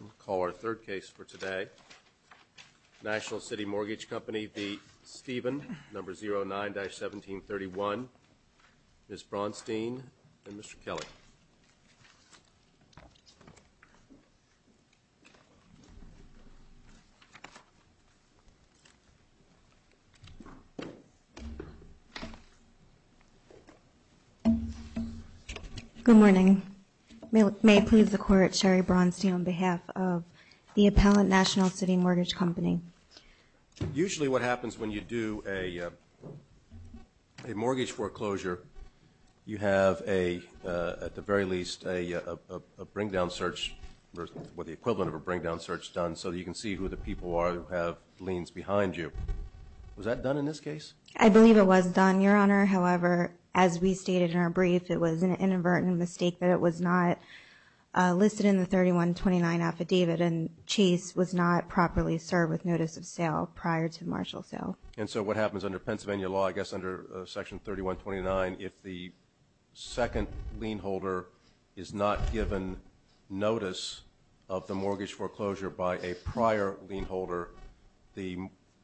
We'll call our third case for today. National City Mortgage Company v. Steven, number 09-1731. Ms. Braunstein and Mr. Kelly. Good morning. May it please the Court, Sherry Braunstein on behalf of the Appellant National City Mortgage Company. Usually what happens when you do a mortgage foreclosure, you have a, at the very least, a bring-down search, or the equivalent of a bring-down search done so you can see who the people are who have liens behind you. Was that done in this case? I believe it was done, Your Honor. However, as we stated in our brief, it was an inadvertent mistake that it was not listed in the 3129 affidavit and Chase was not properly served with notice of sale prior to marginal sale. And so what happens under Pennsylvania law, I guess under Section 3129, if the second lien holder is not given notice of the mortgage foreclosure by a prior lien holder, the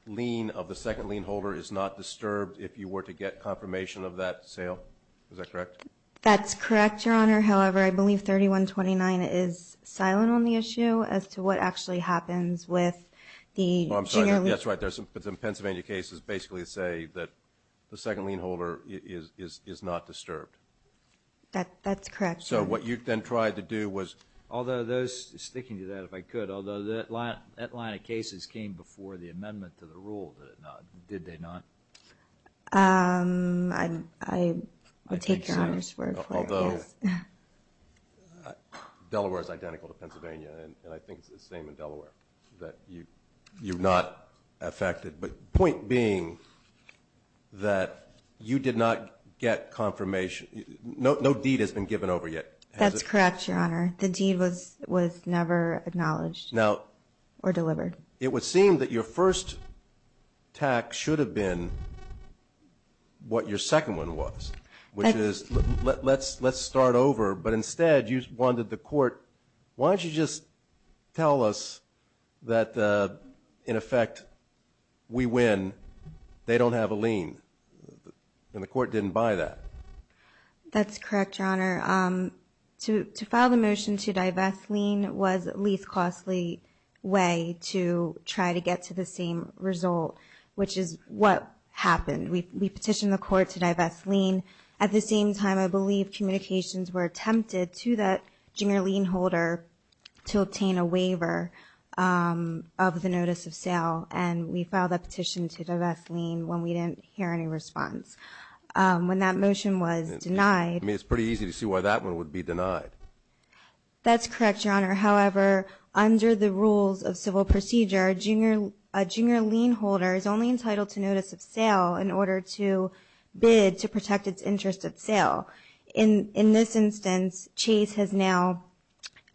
lien of the second lien holder is not disturbed if you were to get confirmation of that sale? Is that correct? That's correct, Your Honor. However, I believe 3129 is silent on the issue as to what actually happens with the junior lien holder. I'm sorry, that's right. There's some Pennsylvania cases basically say that the second lien holder is not disturbed. That's correct, Your Honor. So what you then tried to do was, although those, sticking to that, if I could, although that line of cases came before the amendment to the rule, did it not? Did they not? I would take Your Honor's word for it, yes. Delaware is identical to Pennsylvania, and I think it's the same in Delaware, that you're not affected. But the point being that you did not get confirmation, no deed has been given over yet. That's correct, Your Honor. The deed was never acknowledged or delivered. Now, it would seem that your first tax should have been what your second one was, which is, let's start over. But instead, you wanted the court, why don't you just tell us that in effect, we win, they don't have a lien, and the court didn't buy that? That's correct, Your Honor. To file the motion to divest lien was the least costly way to try to get to the same result, which is what happened. We petitioned the court to divest lien at the same time, I believe, communications were attempted to that junior lien holder to obtain a waiver of the notice of sale, and we filed a petition to divest lien when we didn't hear any response. When that motion was denied... I mean, it's pretty easy to see why that one would be denied. That's correct, Your Honor. However, under the rules of civil procedure, a junior lien holder is only entitled to notice of sale in order to bid to protect its interest at sale. In this instance, Chase has now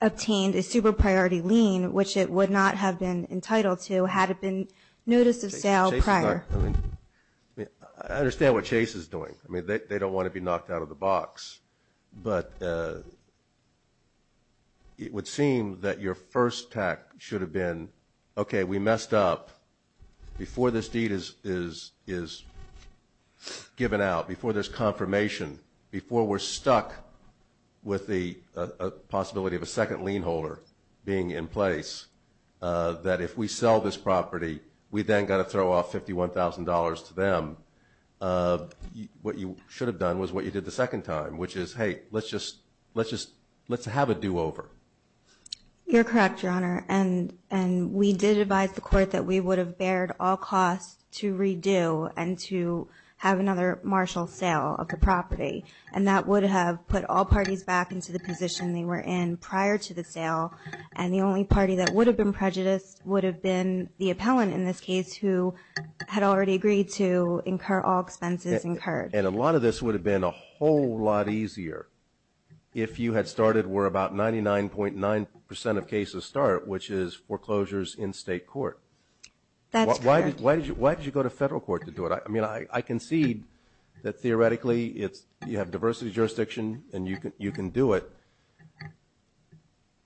obtained a super priority lien, which it would not have been entitled to had it been notice of sale prior. I understand what Chase is doing. I mean, they don't want to be knocked out of the box. But it would seem that your first attack should have been, okay, we messed up. Before this deed is given out, before there's confirmation, before we're stuck with the possibility of a second lien holder being in place, that if we sell this property, we then got to throw off $51,000 to them. What you should have done was what you did the second time, which is, hey, let's have a do-over. You're correct, Your Honor. And we did advise the court that we would have bared all costs to redo and to have another martial sale of the property. And that would have put all parties back into the position they were in prior to the sale. And the only party that would have been prejudiced would have been the appellant in this case who had already agreed to incur all expenses incurred. And a lot of this would have been a whole lot easier if you had started where about 99.9 percent of cases start, which is foreclosures in state court. That's correct. Why did you go to federal court to do it? I mean, I concede that theoretically you have diversity of jurisdiction and you can do it.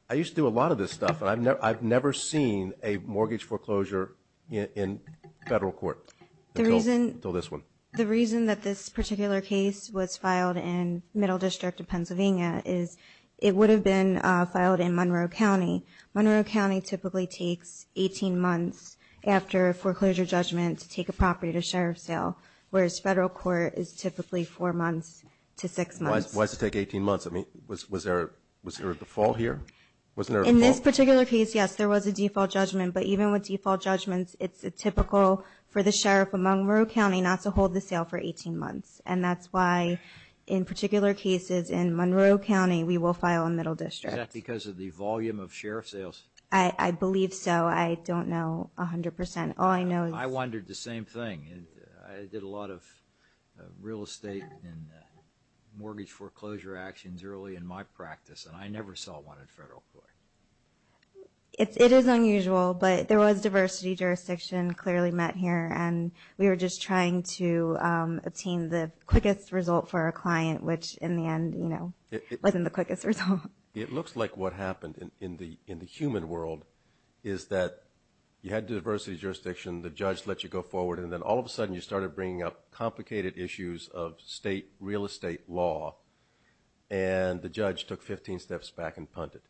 I used to do a lot of this stuff. I've never seen a mortgage foreclosure in federal court until this one. The reason that this particular case was filed in Middle District of Pennsylvania is it would have been filed in Monroe County. Monroe County typically takes 18 months after a foreclosure judgment to take a property to sheriff sale, whereas federal court is typically four months to six months. Why does it take 18 months? I mean, was there a default here? In this particular case, yes, there was a default judgment. But even with default judgments, it's typical for the sheriff of Monroe County not to hold the sale for 18 months. And that's why in particular cases in Monroe County we will file in Middle District. Is that because of the volume of sheriff sales? I believe so. I don't know 100 percent. All I know is – I wondered the same thing. I did a lot of real estate and mortgage foreclosure actions early in my practice, and I never saw one in federal court. It is unusual, but there was diversity jurisdiction clearly met here, and we were just trying to obtain the quickest result for our client, which in the end, you know, wasn't the quickest result. It looks like what happened in the human world is that you had diversity jurisdiction, the judge let you go forward, and then all of a sudden you started bringing up complicated issues of state real estate law, and the judge took 15 steps back and punted.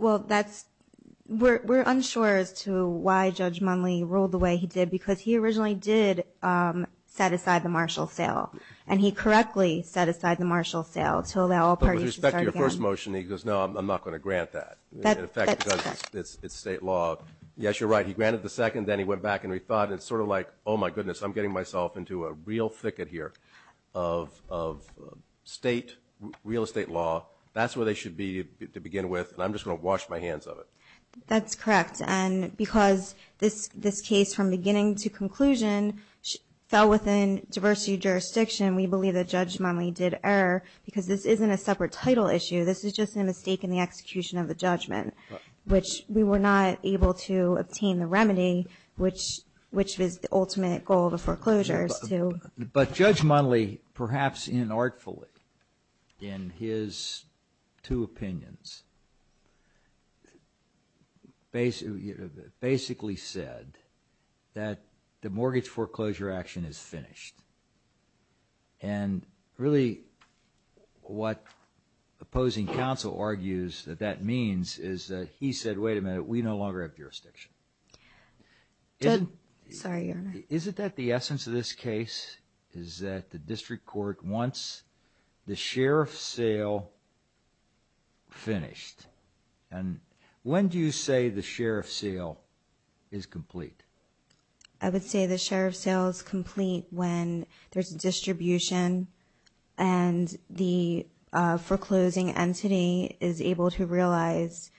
Well, that's – we're unsure as to why Judge Munley ruled the way he did because he originally did set aside the Marshall sale, and he correctly set aside the Marshall sale to allow parties to start again. But with respect to your first motion, he goes, no, I'm not going to grant that. That's correct. In effect, because it's state law. Yes, you're right. He granted the second, then he went back, and we thought it's sort of like, oh, my goodness, I'm getting myself into a real thicket here of state real estate law. That's where they should be to begin with, and I'm just going to wash my hands of it. That's correct. And because this case from beginning to conclusion fell within diversity jurisdiction, we believe that Judge Munley did error because this isn't a separate title issue. This is just a mistake in the execution of the judgment, which we were not able to obtain the remedy, which was the ultimate goal of the foreclosures. But Judge Munley, perhaps inartfully, in his two opinions, basically said that the mortgage foreclosure action is finished. And really what opposing counsel argues that that means is that he said, wait a minute, we no longer have jurisdiction. Sorry, Your Honor. Is it that the essence of this case is that the district court wants the sheriff's sale finished? And when do you say the sheriff's sale is complete? I would say the sheriff's sale is complete when there's a distribution and the foreclosing entity is able to realize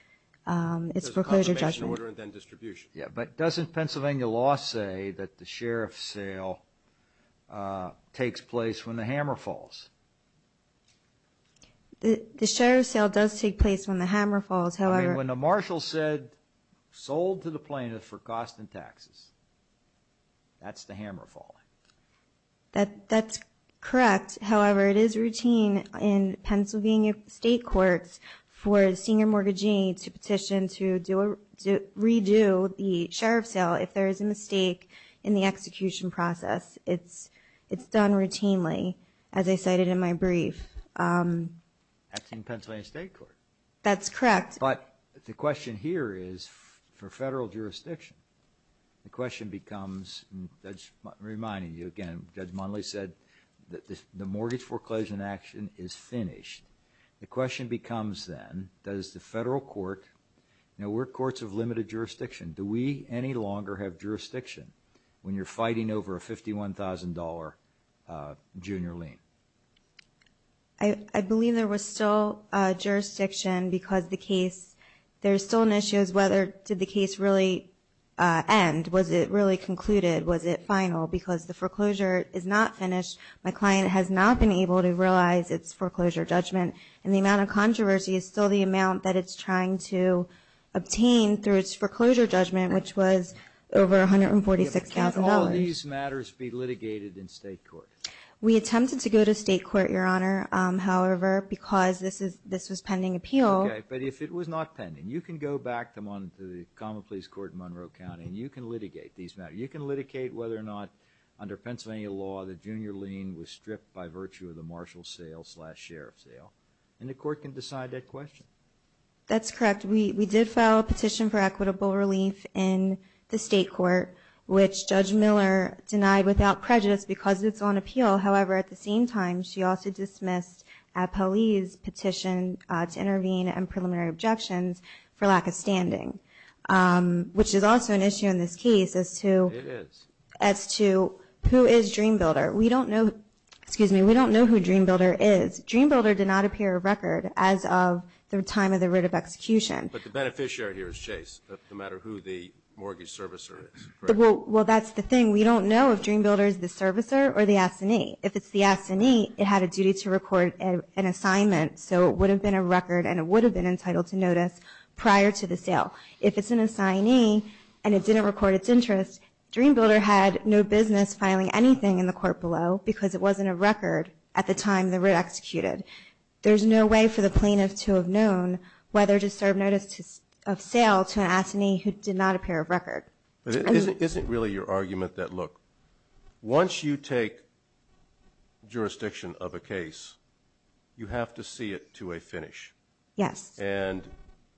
its foreclosure judgment. There's a confirmation order and then distribution. Yeah, but doesn't Pennsylvania law say that the sheriff's sale takes place when the hammer falls? The sheriff's sale does take place when the hammer falls. I mean, when the marshal said sold to the plaintiff for cost and taxes, that's the hammer falling. That's correct. However, it is routine in Pennsylvania state courts for a senior mortgagee to petition to redo the sheriff's sale if there is a mistake in the execution process. It's done routinely, as I cited in my brief. That's in Pennsylvania state court. That's correct. But the question here is for federal jurisdiction. The question becomes, reminding you again, Judge Monley said that the mortgage foreclosure in action is finished. The question becomes then, does the federal court, you know, we're courts of limited jurisdiction. Do we any longer have jurisdiction when you're fighting over a $51,000 junior lien? I believe there was still jurisdiction because the case, there's still an issue as whether did the case really end? Was it really concluded? Was it final? Because the foreclosure is not finished. My client has not been able to realize its foreclosure judgment, and the amount of controversy is still the amount that it's trying to obtain through its foreclosure judgment, which was over $146,000. Can all of these matters be litigated in state court? We attempted to go to state court, Your Honor. However, because this was pending appeal. Okay. But if it was not pending, you can go back to the common pleas court in Monroe County, and you can litigate these matters. You can litigate whether or not, under Pennsylvania law, the junior lien was stripped by virtue of the marshal sale slash sheriff sale, and the court can decide that question. That's correct. We did file a petition for equitable relief in the state court, which Judge Miller denied without prejudice because it's on appeal. However, at the same time, she also dismissed a police petition to intervene and preliminary objections for lack of standing, which is also an issue in this case as to who is Dream Builder. We don't know who Dream Builder is. Dream Builder did not appear on record as of the time of the writ of execution. But the beneficiary here is Chase, no matter who the mortgage servicer is, correct? Well, that's the thing. We don't know if Dream Builder is the servicer or the assignee. If it's the assignee, it had a duty to record an assignment, so it would have been a record and it would have been entitled to notice prior to the sale. If it's an assignee and it didn't record its interest, Dream Builder had no business filing anything in the court below because it wasn't a record at the time the writ executed. There's no way for the plaintiff to have known whether to serve notice of sale to an assignee who did not appear of record. Isn't it really your argument that, look, once you take jurisdiction of a case, you have to see it to a finish? Yes. And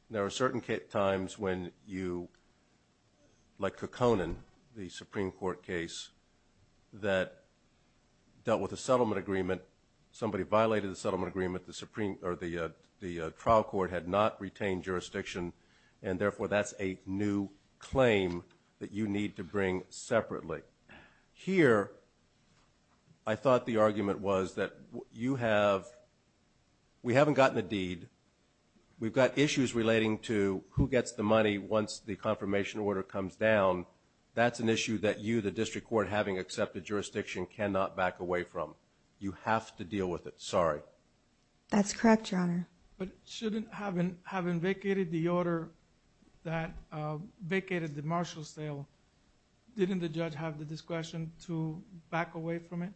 there are certain times when you, like Kekkonen, the Supreme Court case, that dealt with a settlement agreement, and somebody violated the settlement agreement, the trial court had not retained jurisdiction, and therefore that's a new claim that you need to bring separately. Here, I thought the argument was that we haven't gotten a deed. We've got issues relating to who gets the money once the confirmation order comes down. That's an issue that you, the district court, having accepted jurisdiction, cannot back away from. You have to deal with it. Sorry. That's correct, Your Honor. But shouldn't having vacated the order that vacated the Marshall sale, didn't the judge have the discretion to back away from it?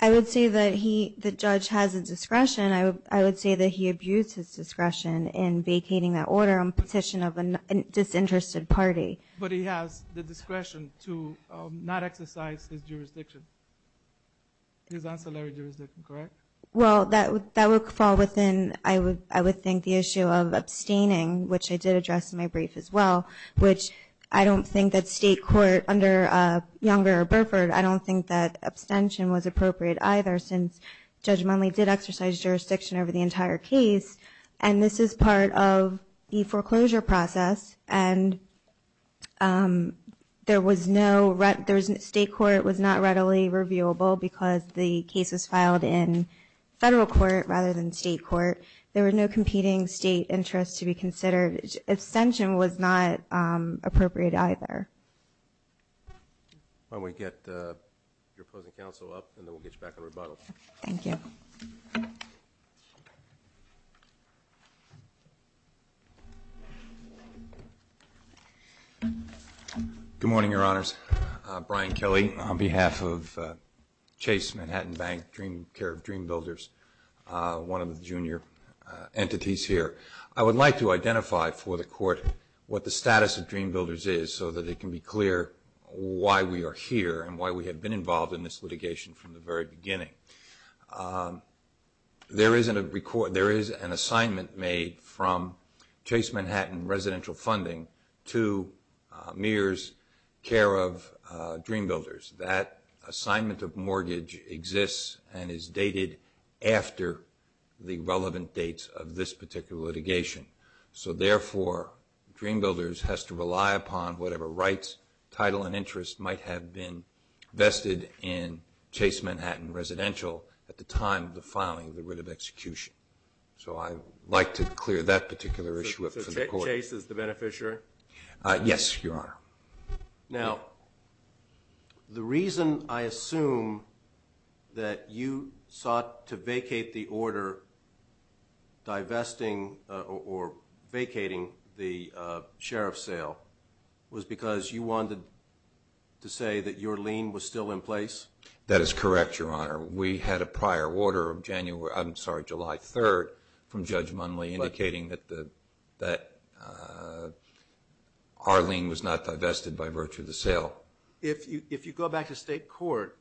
I would say that the judge has the discretion. I would say that he abused his discretion in vacating that order on petition of a disinterested party. But he has the discretion to not exercise his jurisdiction, his ancillary jurisdiction, correct? Well, that would fall within, I would think, the issue of abstaining, which I did address in my brief as well, which I don't think that state court under Younger or Burford, I don't think that abstention was appropriate either, since Judge Mundley did exercise jurisdiction over the entire case, and this is part of the foreclosure process, and state court was not readily reviewable because the case was filed in federal court rather than state court. There were no competing state interests to be considered. Abstention was not appropriate either. Why don't we get your opposing counsel up, and then we'll get you back on rebuttal. Thank you. Thank you. Good morning, Your Honors. I'm Brian Kelly on behalf of Chase Manhattan Bank, Dream Care of Dream Builders, one of the junior entities here. I would like to identify for the court what the status of Dream Builders is so that it can be clear why we are here and why we have been involved in this litigation from the very beginning. There is an assignment made from Chase Manhattan Residential Funding to Mears Care of Dream Builders. That assignment of mortgage exists and is dated after the relevant dates of this particular litigation. So, therefore, Dream Builders has to rely upon whatever rights, title, and interest might have been vested in Chase Manhattan Residential at the time of the filing of the writ of execution. So I'd like to clear that particular issue up for the court. So Chase is the beneficiary? Yes, Your Honor. Now, the reason I assume that you sought to vacate the order divesting or vacating the sheriff's sale was because you wanted to say that your lien was still in place? That is correct, Your Honor. We had a prior order of July 3rd from Judge Munley indicating that our lien was not divested by virtue of the sale. If you go back to state court,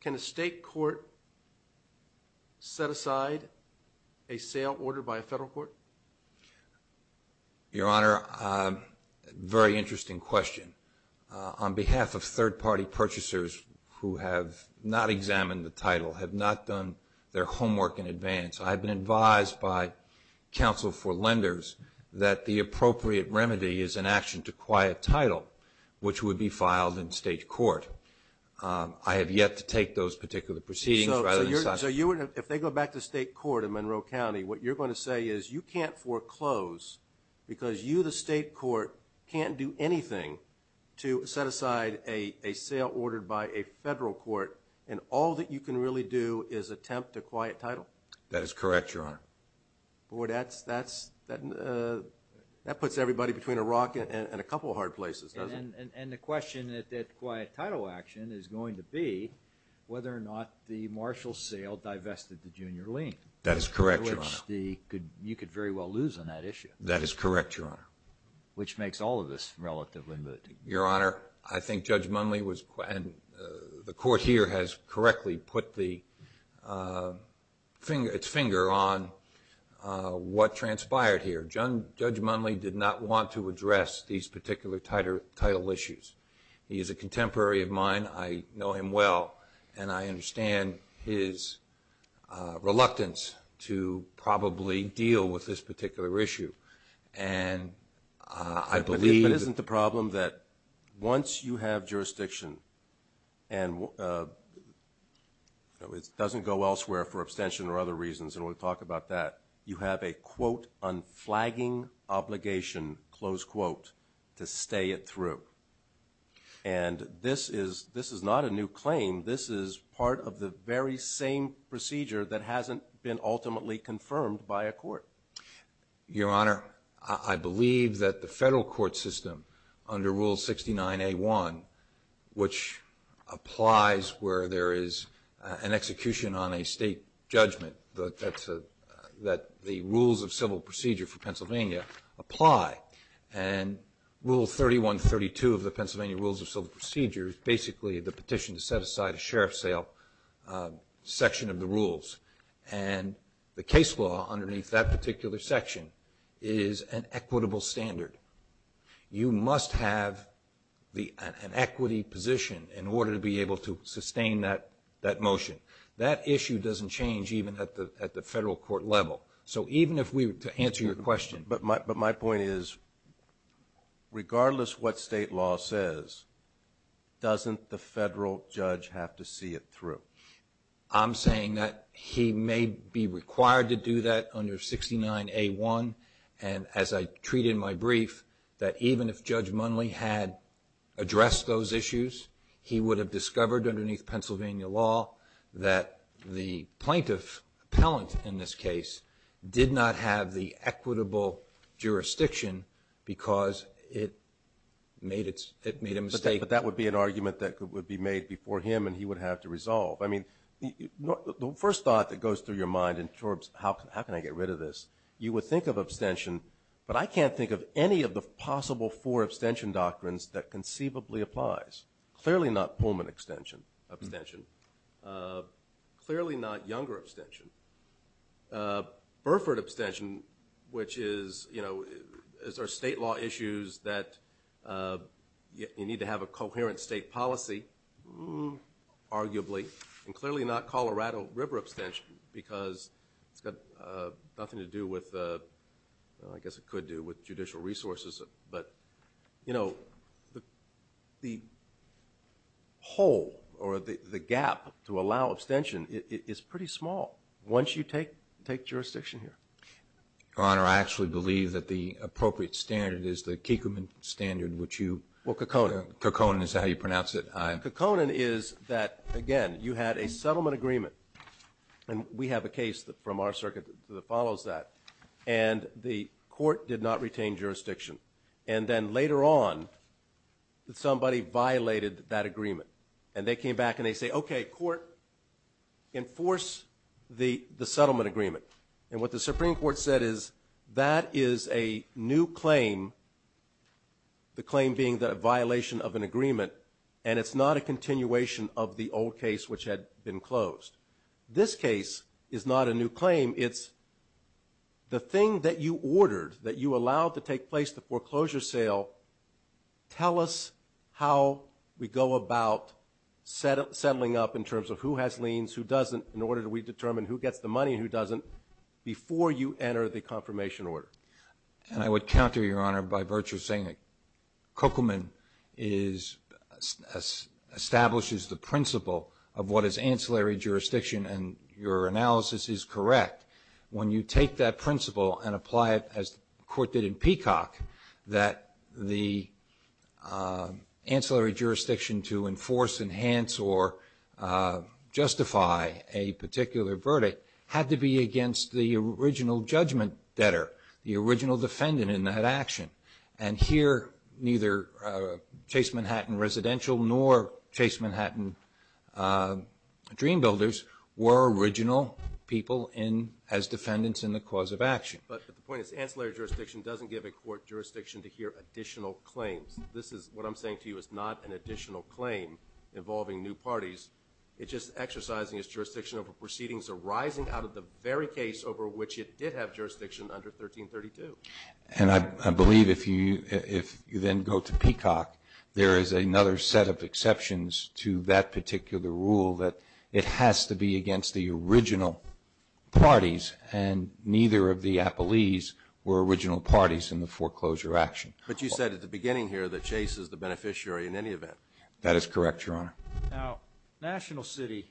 can a state court set aside a sale order by a federal court? Your Honor, very interesting question. On behalf of third-party purchasers who have not examined the title, have not done their homework in advance, I have been advised by counsel for lenders that the appropriate remedy is an action to acquire a title, which would be filed in state court. I have yet to take those particular proceedings. So if they go back to state court in Monroe County, what you're going to say is you can't foreclose because you, the state court, can't do anything to set aside a sale ordered by a federal court, and all that you can really do is attempt to quiet title? That is correct, Your Honor. Boy, that puts everybody between a rock and a couple of hard places, doesn't it? And the question at quiet title action is going to be whether or not the marshal's sale divested the junior lien. That is correct, Your Honor. You could very well lose on that issue. That is correct, Your Honor. Which makes all of this relatively good. Your Honor, I think Judge Munley was, and the court here has correctly put its finger on what transpired here. Judge Munley did not want to address these particular title issues. He is a contemporary of mine. I know him well, and I understand his reluctance to probably deal with this particular issue. But isn't the problem that once you have jurisdiction, and it doesn't go elsewhere for abstention or other reasons, and we'll talk about that, you have a, quote, unflagging obligation, close quote, to stay it through. And this is not a new claim. This is part of the very same procedure that hasn't been ultimately confirmed by a court. Your Honor, I believe that the federal court system under Rule 69A1, which applies where there is an execution on a state judgment, that the rules of civil procedure for Pennsylvania apply. And Rule 3132 of the Pennsylvania Rules of Civil Procedure is basically the petition to set aside a sheriff's section of the rules. And the case law underneath that particular section is an equitable standard. You must have an equity position in order to be able to sustain that motion. That issue doesn't change even at the federal court level. So even if we were to answer your question. But my point is, regardless what state law says, doesn't the federal judge have to see it through? I'm saying that he may be required to do that under 69A1. And as I treat in my brief, that even if Judge Munley had addressed those issues, he would have discovered underneath Pennsylvania law that the plaintiff, appellant in this case, did not have the equitable jurisdiction because it made a mistake. But that would be an argument that would be made before him and he would have to resolve. I mean, the first thought that goes through your mind in terms of how can I get rid of this, you would think of abstention, but I can't think of any of the possible four abstention doctrines that conceivably applies. Clearly not Pullman abstention. Clearly not Younger abstention. Burford abstention, which is, you know, is there state law issues that you need to have a coherent state policy, arguably. And clearly not Colorado River abstention because it's got nothing to do with, I guess it could do with judicial resources. But, you know, the hole or the gap to allow abstention is pretty small once you take jurisdiction here. Your Honor, I actually believe that the appropriate standard is the Kikkoman standard, which you. Well, Kikkonen. Kikkonen is how you pronounce it. Kikkonen is that, again, you had a settlement agreement. And we have a case from our circuit that follows that. And the court did not retain jurisdiction. And then later on, somebody violated that agreement. And they came back and they say, okay, court, enforce the settlement agreement. And what the Supreme Court said is that is a new claim, the claim being that a violation of an agreement, and it's not a continuation of the old case which had been closed. This case is not a new claim. It's the thing that you ordered that you allowed to take place, the foreclosure sale, tell us how we go about settling up in terms of who has liens, who doesn't, in order that we determine who gets the money and who doesn't before you enter the confirmation order. And I would counter, Your Honor, by virtue of saying that Kikkonen establishes the principle of what is ancillary jurisdiction, and your analysis is correct. When you take that principle and apply it, as the court did in Peacock, that the ancillary jurisdiction to enforce, enhance, or justify a particular verdict had to be against the original judgment debtor, the original defendant in that action. And here, neither Chase Manhattan Residential nor Chase Manhattan Dream Builders were original people as defendants in the cause of action. But the point is, ancillary jurisdiction doesn't give a court jurisdiction to hear additional claims. This is, what I'm saying to you, is not an additional claim involving new parties. It's just exercising its jurisdiction over proceedings arising out of the very case over which it did have jurisdiction under 1332. And I believe if you then go to Peacock, there is another set of exceptions to that particular rule that it has to be against the original parties, and neither of the appellees were original parties in the foreclosure action. But you said at the beginning here that Chase is the beneficiary in any event. That is correct, Your Honor. Now, National City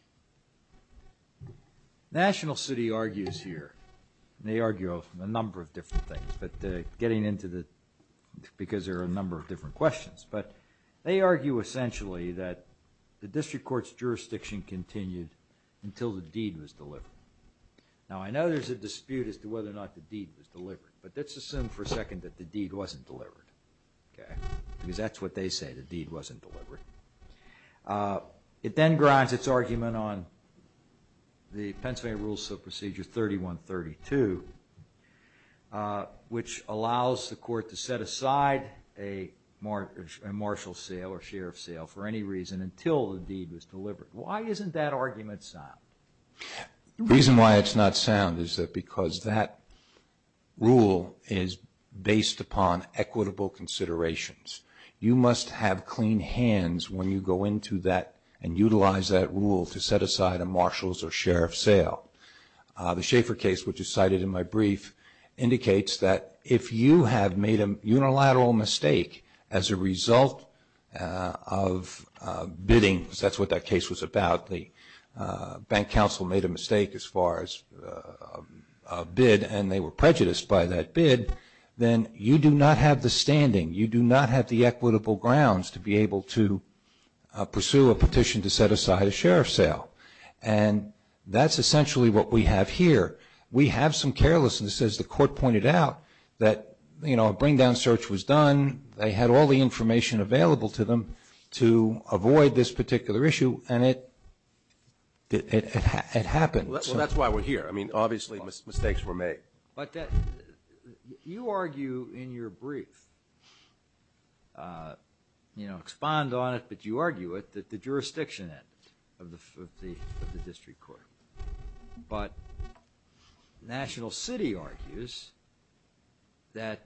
argues here, and they argue a number of different things, but getting into the, because there are a number of different questions, but they argue essentially that the district court's jurisdiction continued until the deed was delivered. Now, I know there's a dispute as to whether or not the deed was delivered, but let's assume for a second that the deed wasn't delivered, because that's what they say, the deed wasn't delivered. It then grinds its argument on the Pennsylvania Rules of Procedure 3132, which allows the court to set aside a marshal's sale or sheriff's sale for any reason until the deed was delivered. Why isn't that argument sound? The reason why it's not sound is because that rule is based upon equitable considerations. You must have clean hands when you go into that and utilize that rule to set aside a marshal's or sheriff's sale. The Schaefer case, which is cited in my brief, indicates that if you have made a unilateral mistake as a result of bidding, because that's what that case was about, the bank counsel made a mistake as far as a bid and they were prejudiced by that bid, then you do not have the standing, you do not have the equitable grounds to be able to pursue a petition to set aside a sheriff's sale. And that's essentially what we have here. We have some carelessness, as the court pointed out, that, you know, a bring-down search was done, they had all the information available to them to avoid this particular issue, and it happened. Well, that's why we're here. I mean, obviously mistakes were made. But you argue in your brief, you know, expand on it, but you argue it that the jurisdiction ended of the district court. But National City argues that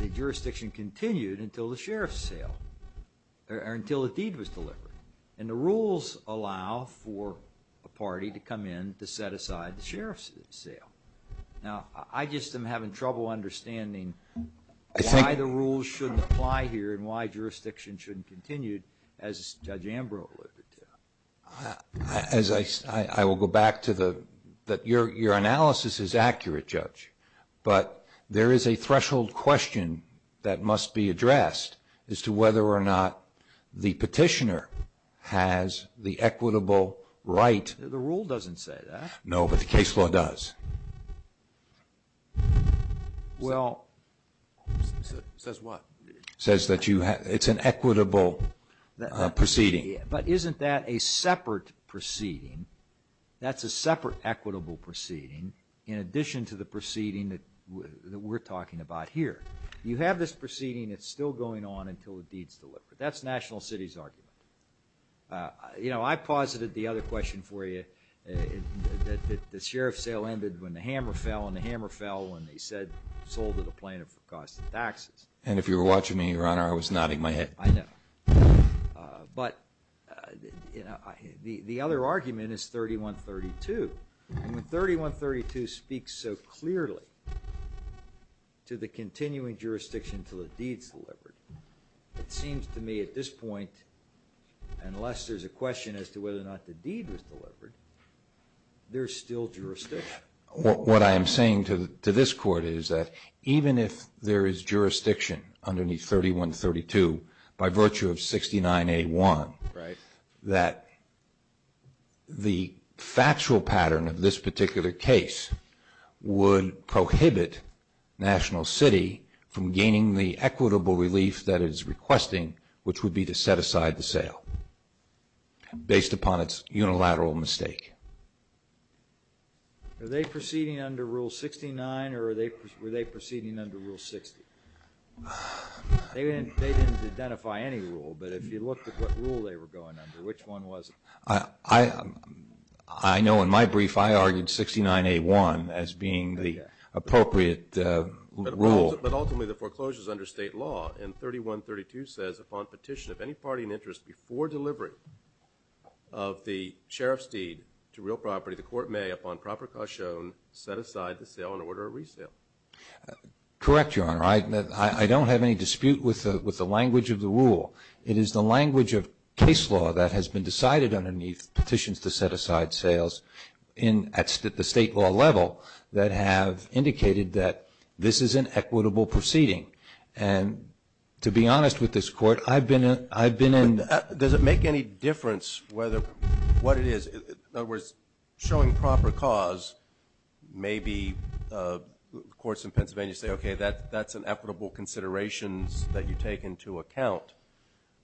the jurisdiction continued until the sheriff's sale, or until a deed was delivered. And the rules allow for a party to come in to set aside the sheriff's sale. Now, I just am having trouble understanding why the rules shouldn't apply here and why jurisdiction shouldn't continue, as Judge Ambrose alluded to. I will go back to the, that your analysis is accurate, Judge. But there is a threshold question that must be addressed as to whether or not the petitioner has the equitable right. The rule doesn't say that. No, but the case law does. Well. Says what? Says that it's an equitable proceeding. But isn't that a separate proceeding? That's a separate equitable proceeding in addition to the proceeding that we're talking about here. You have this proceeding that's still going on until a deed's delivered. That's National City's argument. You know, I posited the other question for you, that the sheriff's sale ended when the hammer fell, and the hammer fell when they said sold to the plaintiff for cost of taxes. And if you were watching me, Your Honor, I was nodding my head. I know. But the other argument is 3132. And when 3132 speaks so clearly to the continuing jurisdiction until a deed's delivered, it seems to me at this point, unless there's a question as to whether or not the deed was delivered, there's still jurisdiction. What I am saying to this Court is that even if there is jurisdiction underneath 3132, by virtue of 69A1, that the factual pattern of this particular case would prohibit National City from gaining the equitable relief that it is requesting, which would be to set aside the sale, based upon its unilateral mistake. Are they proceeding under Rule 69, or were they proceeding under Rule 60? They didn't identify any rule, but if you looked at what rule they were going under, which one was it? I know in my brief, I argued 69A1 as being the appropriate rule. But ultimately, the foreclosure is under state law. And 3132 says, upon petition of any party in interest before delivery of the sheriff's deed to real property, the Court may, upon proper caution, set aside the sale and order a resale. Correct, Your Honor. I don't have any dispute with the language of the rule. It is the language of case law that has been decided underneath petitions to set aside sales at the state law level that have indicated that this is an equitable proceeding. And to be honest with this Court, I've been in the... Does it make any difference what it is? In other words, showing proper cause, maybe courts in Pennsylvania say, okay, that's an equitable consideration that you take into account.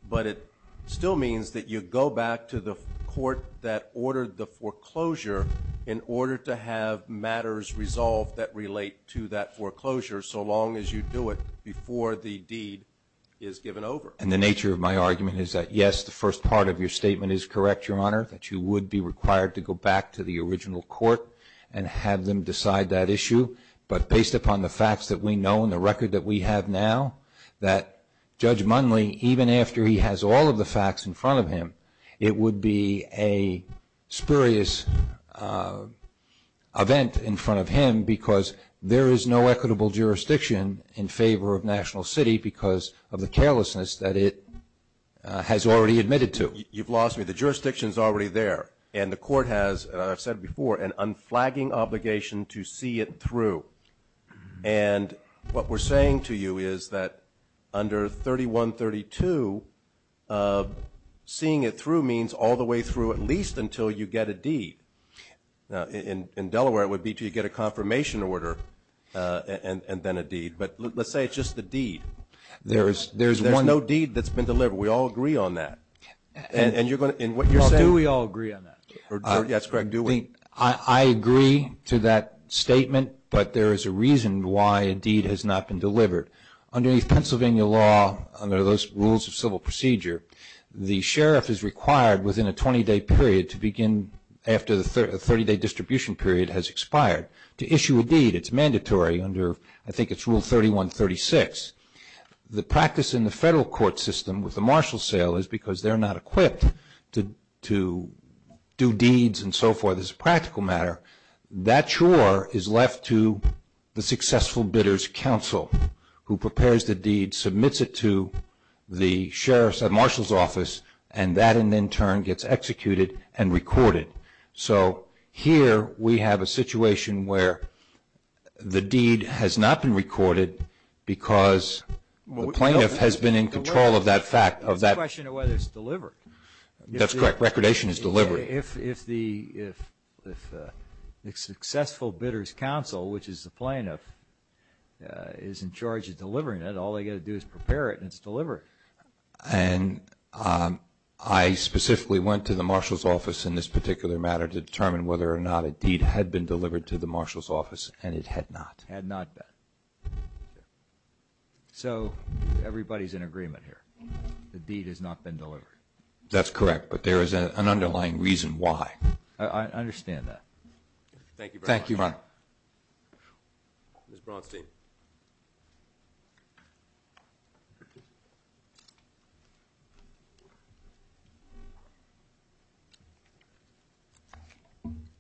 But it still means that you go back to the court that ordered the foreclosure in order to have matters resolved that relate to that foreclosure so long as you do it before the deed is given over. And the nature of my argument is that, yes, the first part of your statement is correct, Your Honor, that you would be required to go back to the original court and have them decide that issue. But based upon the facts that we know and the record that we have now, that Judge Munley, even after he has all of the facts in front of him, it would be a spurious event in front of him because there is no equitable jurisdiction in favor of National City because of the carelessness that it has already admitted to. You've lost me. The jurisdiction is already there. And the Court has, as I've said before, an unflagging obligation to see it through. And what we're saying to you is that under 3132, seeing it through means all the way through, at least until you get a deed. In Delaware, it would be until you get a confirmation order and then a deed. But let's say it's just a deed. There's no deed that's been delivered. We all agree on that. Yes, Craig, do we? I agree to that statement, but there is a reason why a deed has not been delivered. Under Pennsylvania law, under those rules of civil procedure, the sheriff is required within a 20-day period to begin after the 30-day distribution period has expired. To issue a deed, it's mandatory under, I think it's Rule 3136. The practice in the federal court system with the marshal sale is because they're not equipped to do deeds and so forth as a practical matter. That chore is left to the successful bidder's counsel who prepares the deed, submits it to the sheriff's or marshal's office, and that in turn gets executed and recorded. So here we have a situation where the deed has not been recorded because the plaintiff has been in control of that fact. It's a question of whether it's delivered. That's correct. Recordation is delivered. If the successful bidder's counsel, which is the plaintiff, is in charge of delivering it, all they've got to do is prepare it and it's delivered. And I specifically went to the marshal's office in this particular matter to determine whether or not a deed had been delivered to the marshal's office, and it had not. Had not been. So everybody's in agreement here. The deed has not been delivered. That's correct, but there is an underlying reason why. I understand that. Thank you, Your Honor. Thank you, Your Honor. Ms. Braunstein.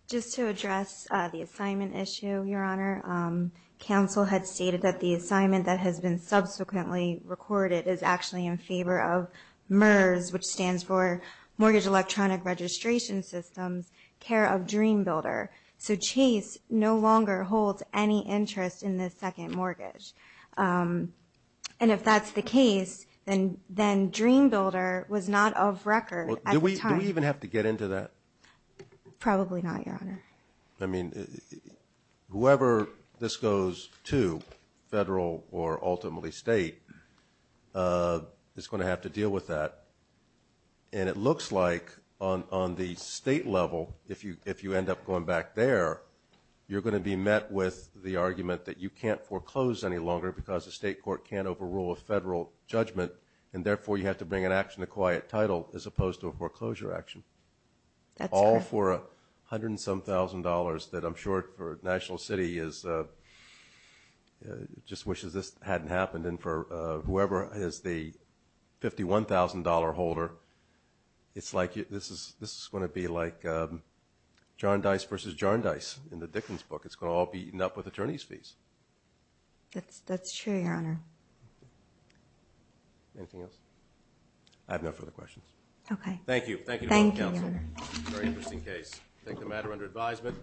Just to address the assignment issue, Your Honor, counsel had stated that the assignment that has been subsequently recorded is actually in favor of MERS, which stands for Mortgage Electronic Registration Systems, care of Dream Builder. So Chase no longer holds any interest in this second mortgage. And if that's the case, then Dream Builder was not of record at the time. Do we even have to get into that? Probably not, Your Honor. I mean, whoever this goes to, federal or ultimately state, is going to have to deal with that. And it looks like on the state level, if you end up going back there, you're going to be met with the argument that you can't foreclose any longer because the state court can't overrule a federal judgment, and therefore you have to bring an action to quiet title as opposed to a foreclosure action. All for $107,000 that I'm sure for National City just wishes this hadn't happened. And for whoever is the $51,000 holder, this is going to be like John Dice versus Jarn Dice in the Dickens book. It's going to all be eaten up with attorney's fees. That's true, Your Honor. Anything else? I have no further questions. Okay. Thank you. Thank you, Your Honor. Very interesting case. Take the matter under advisement.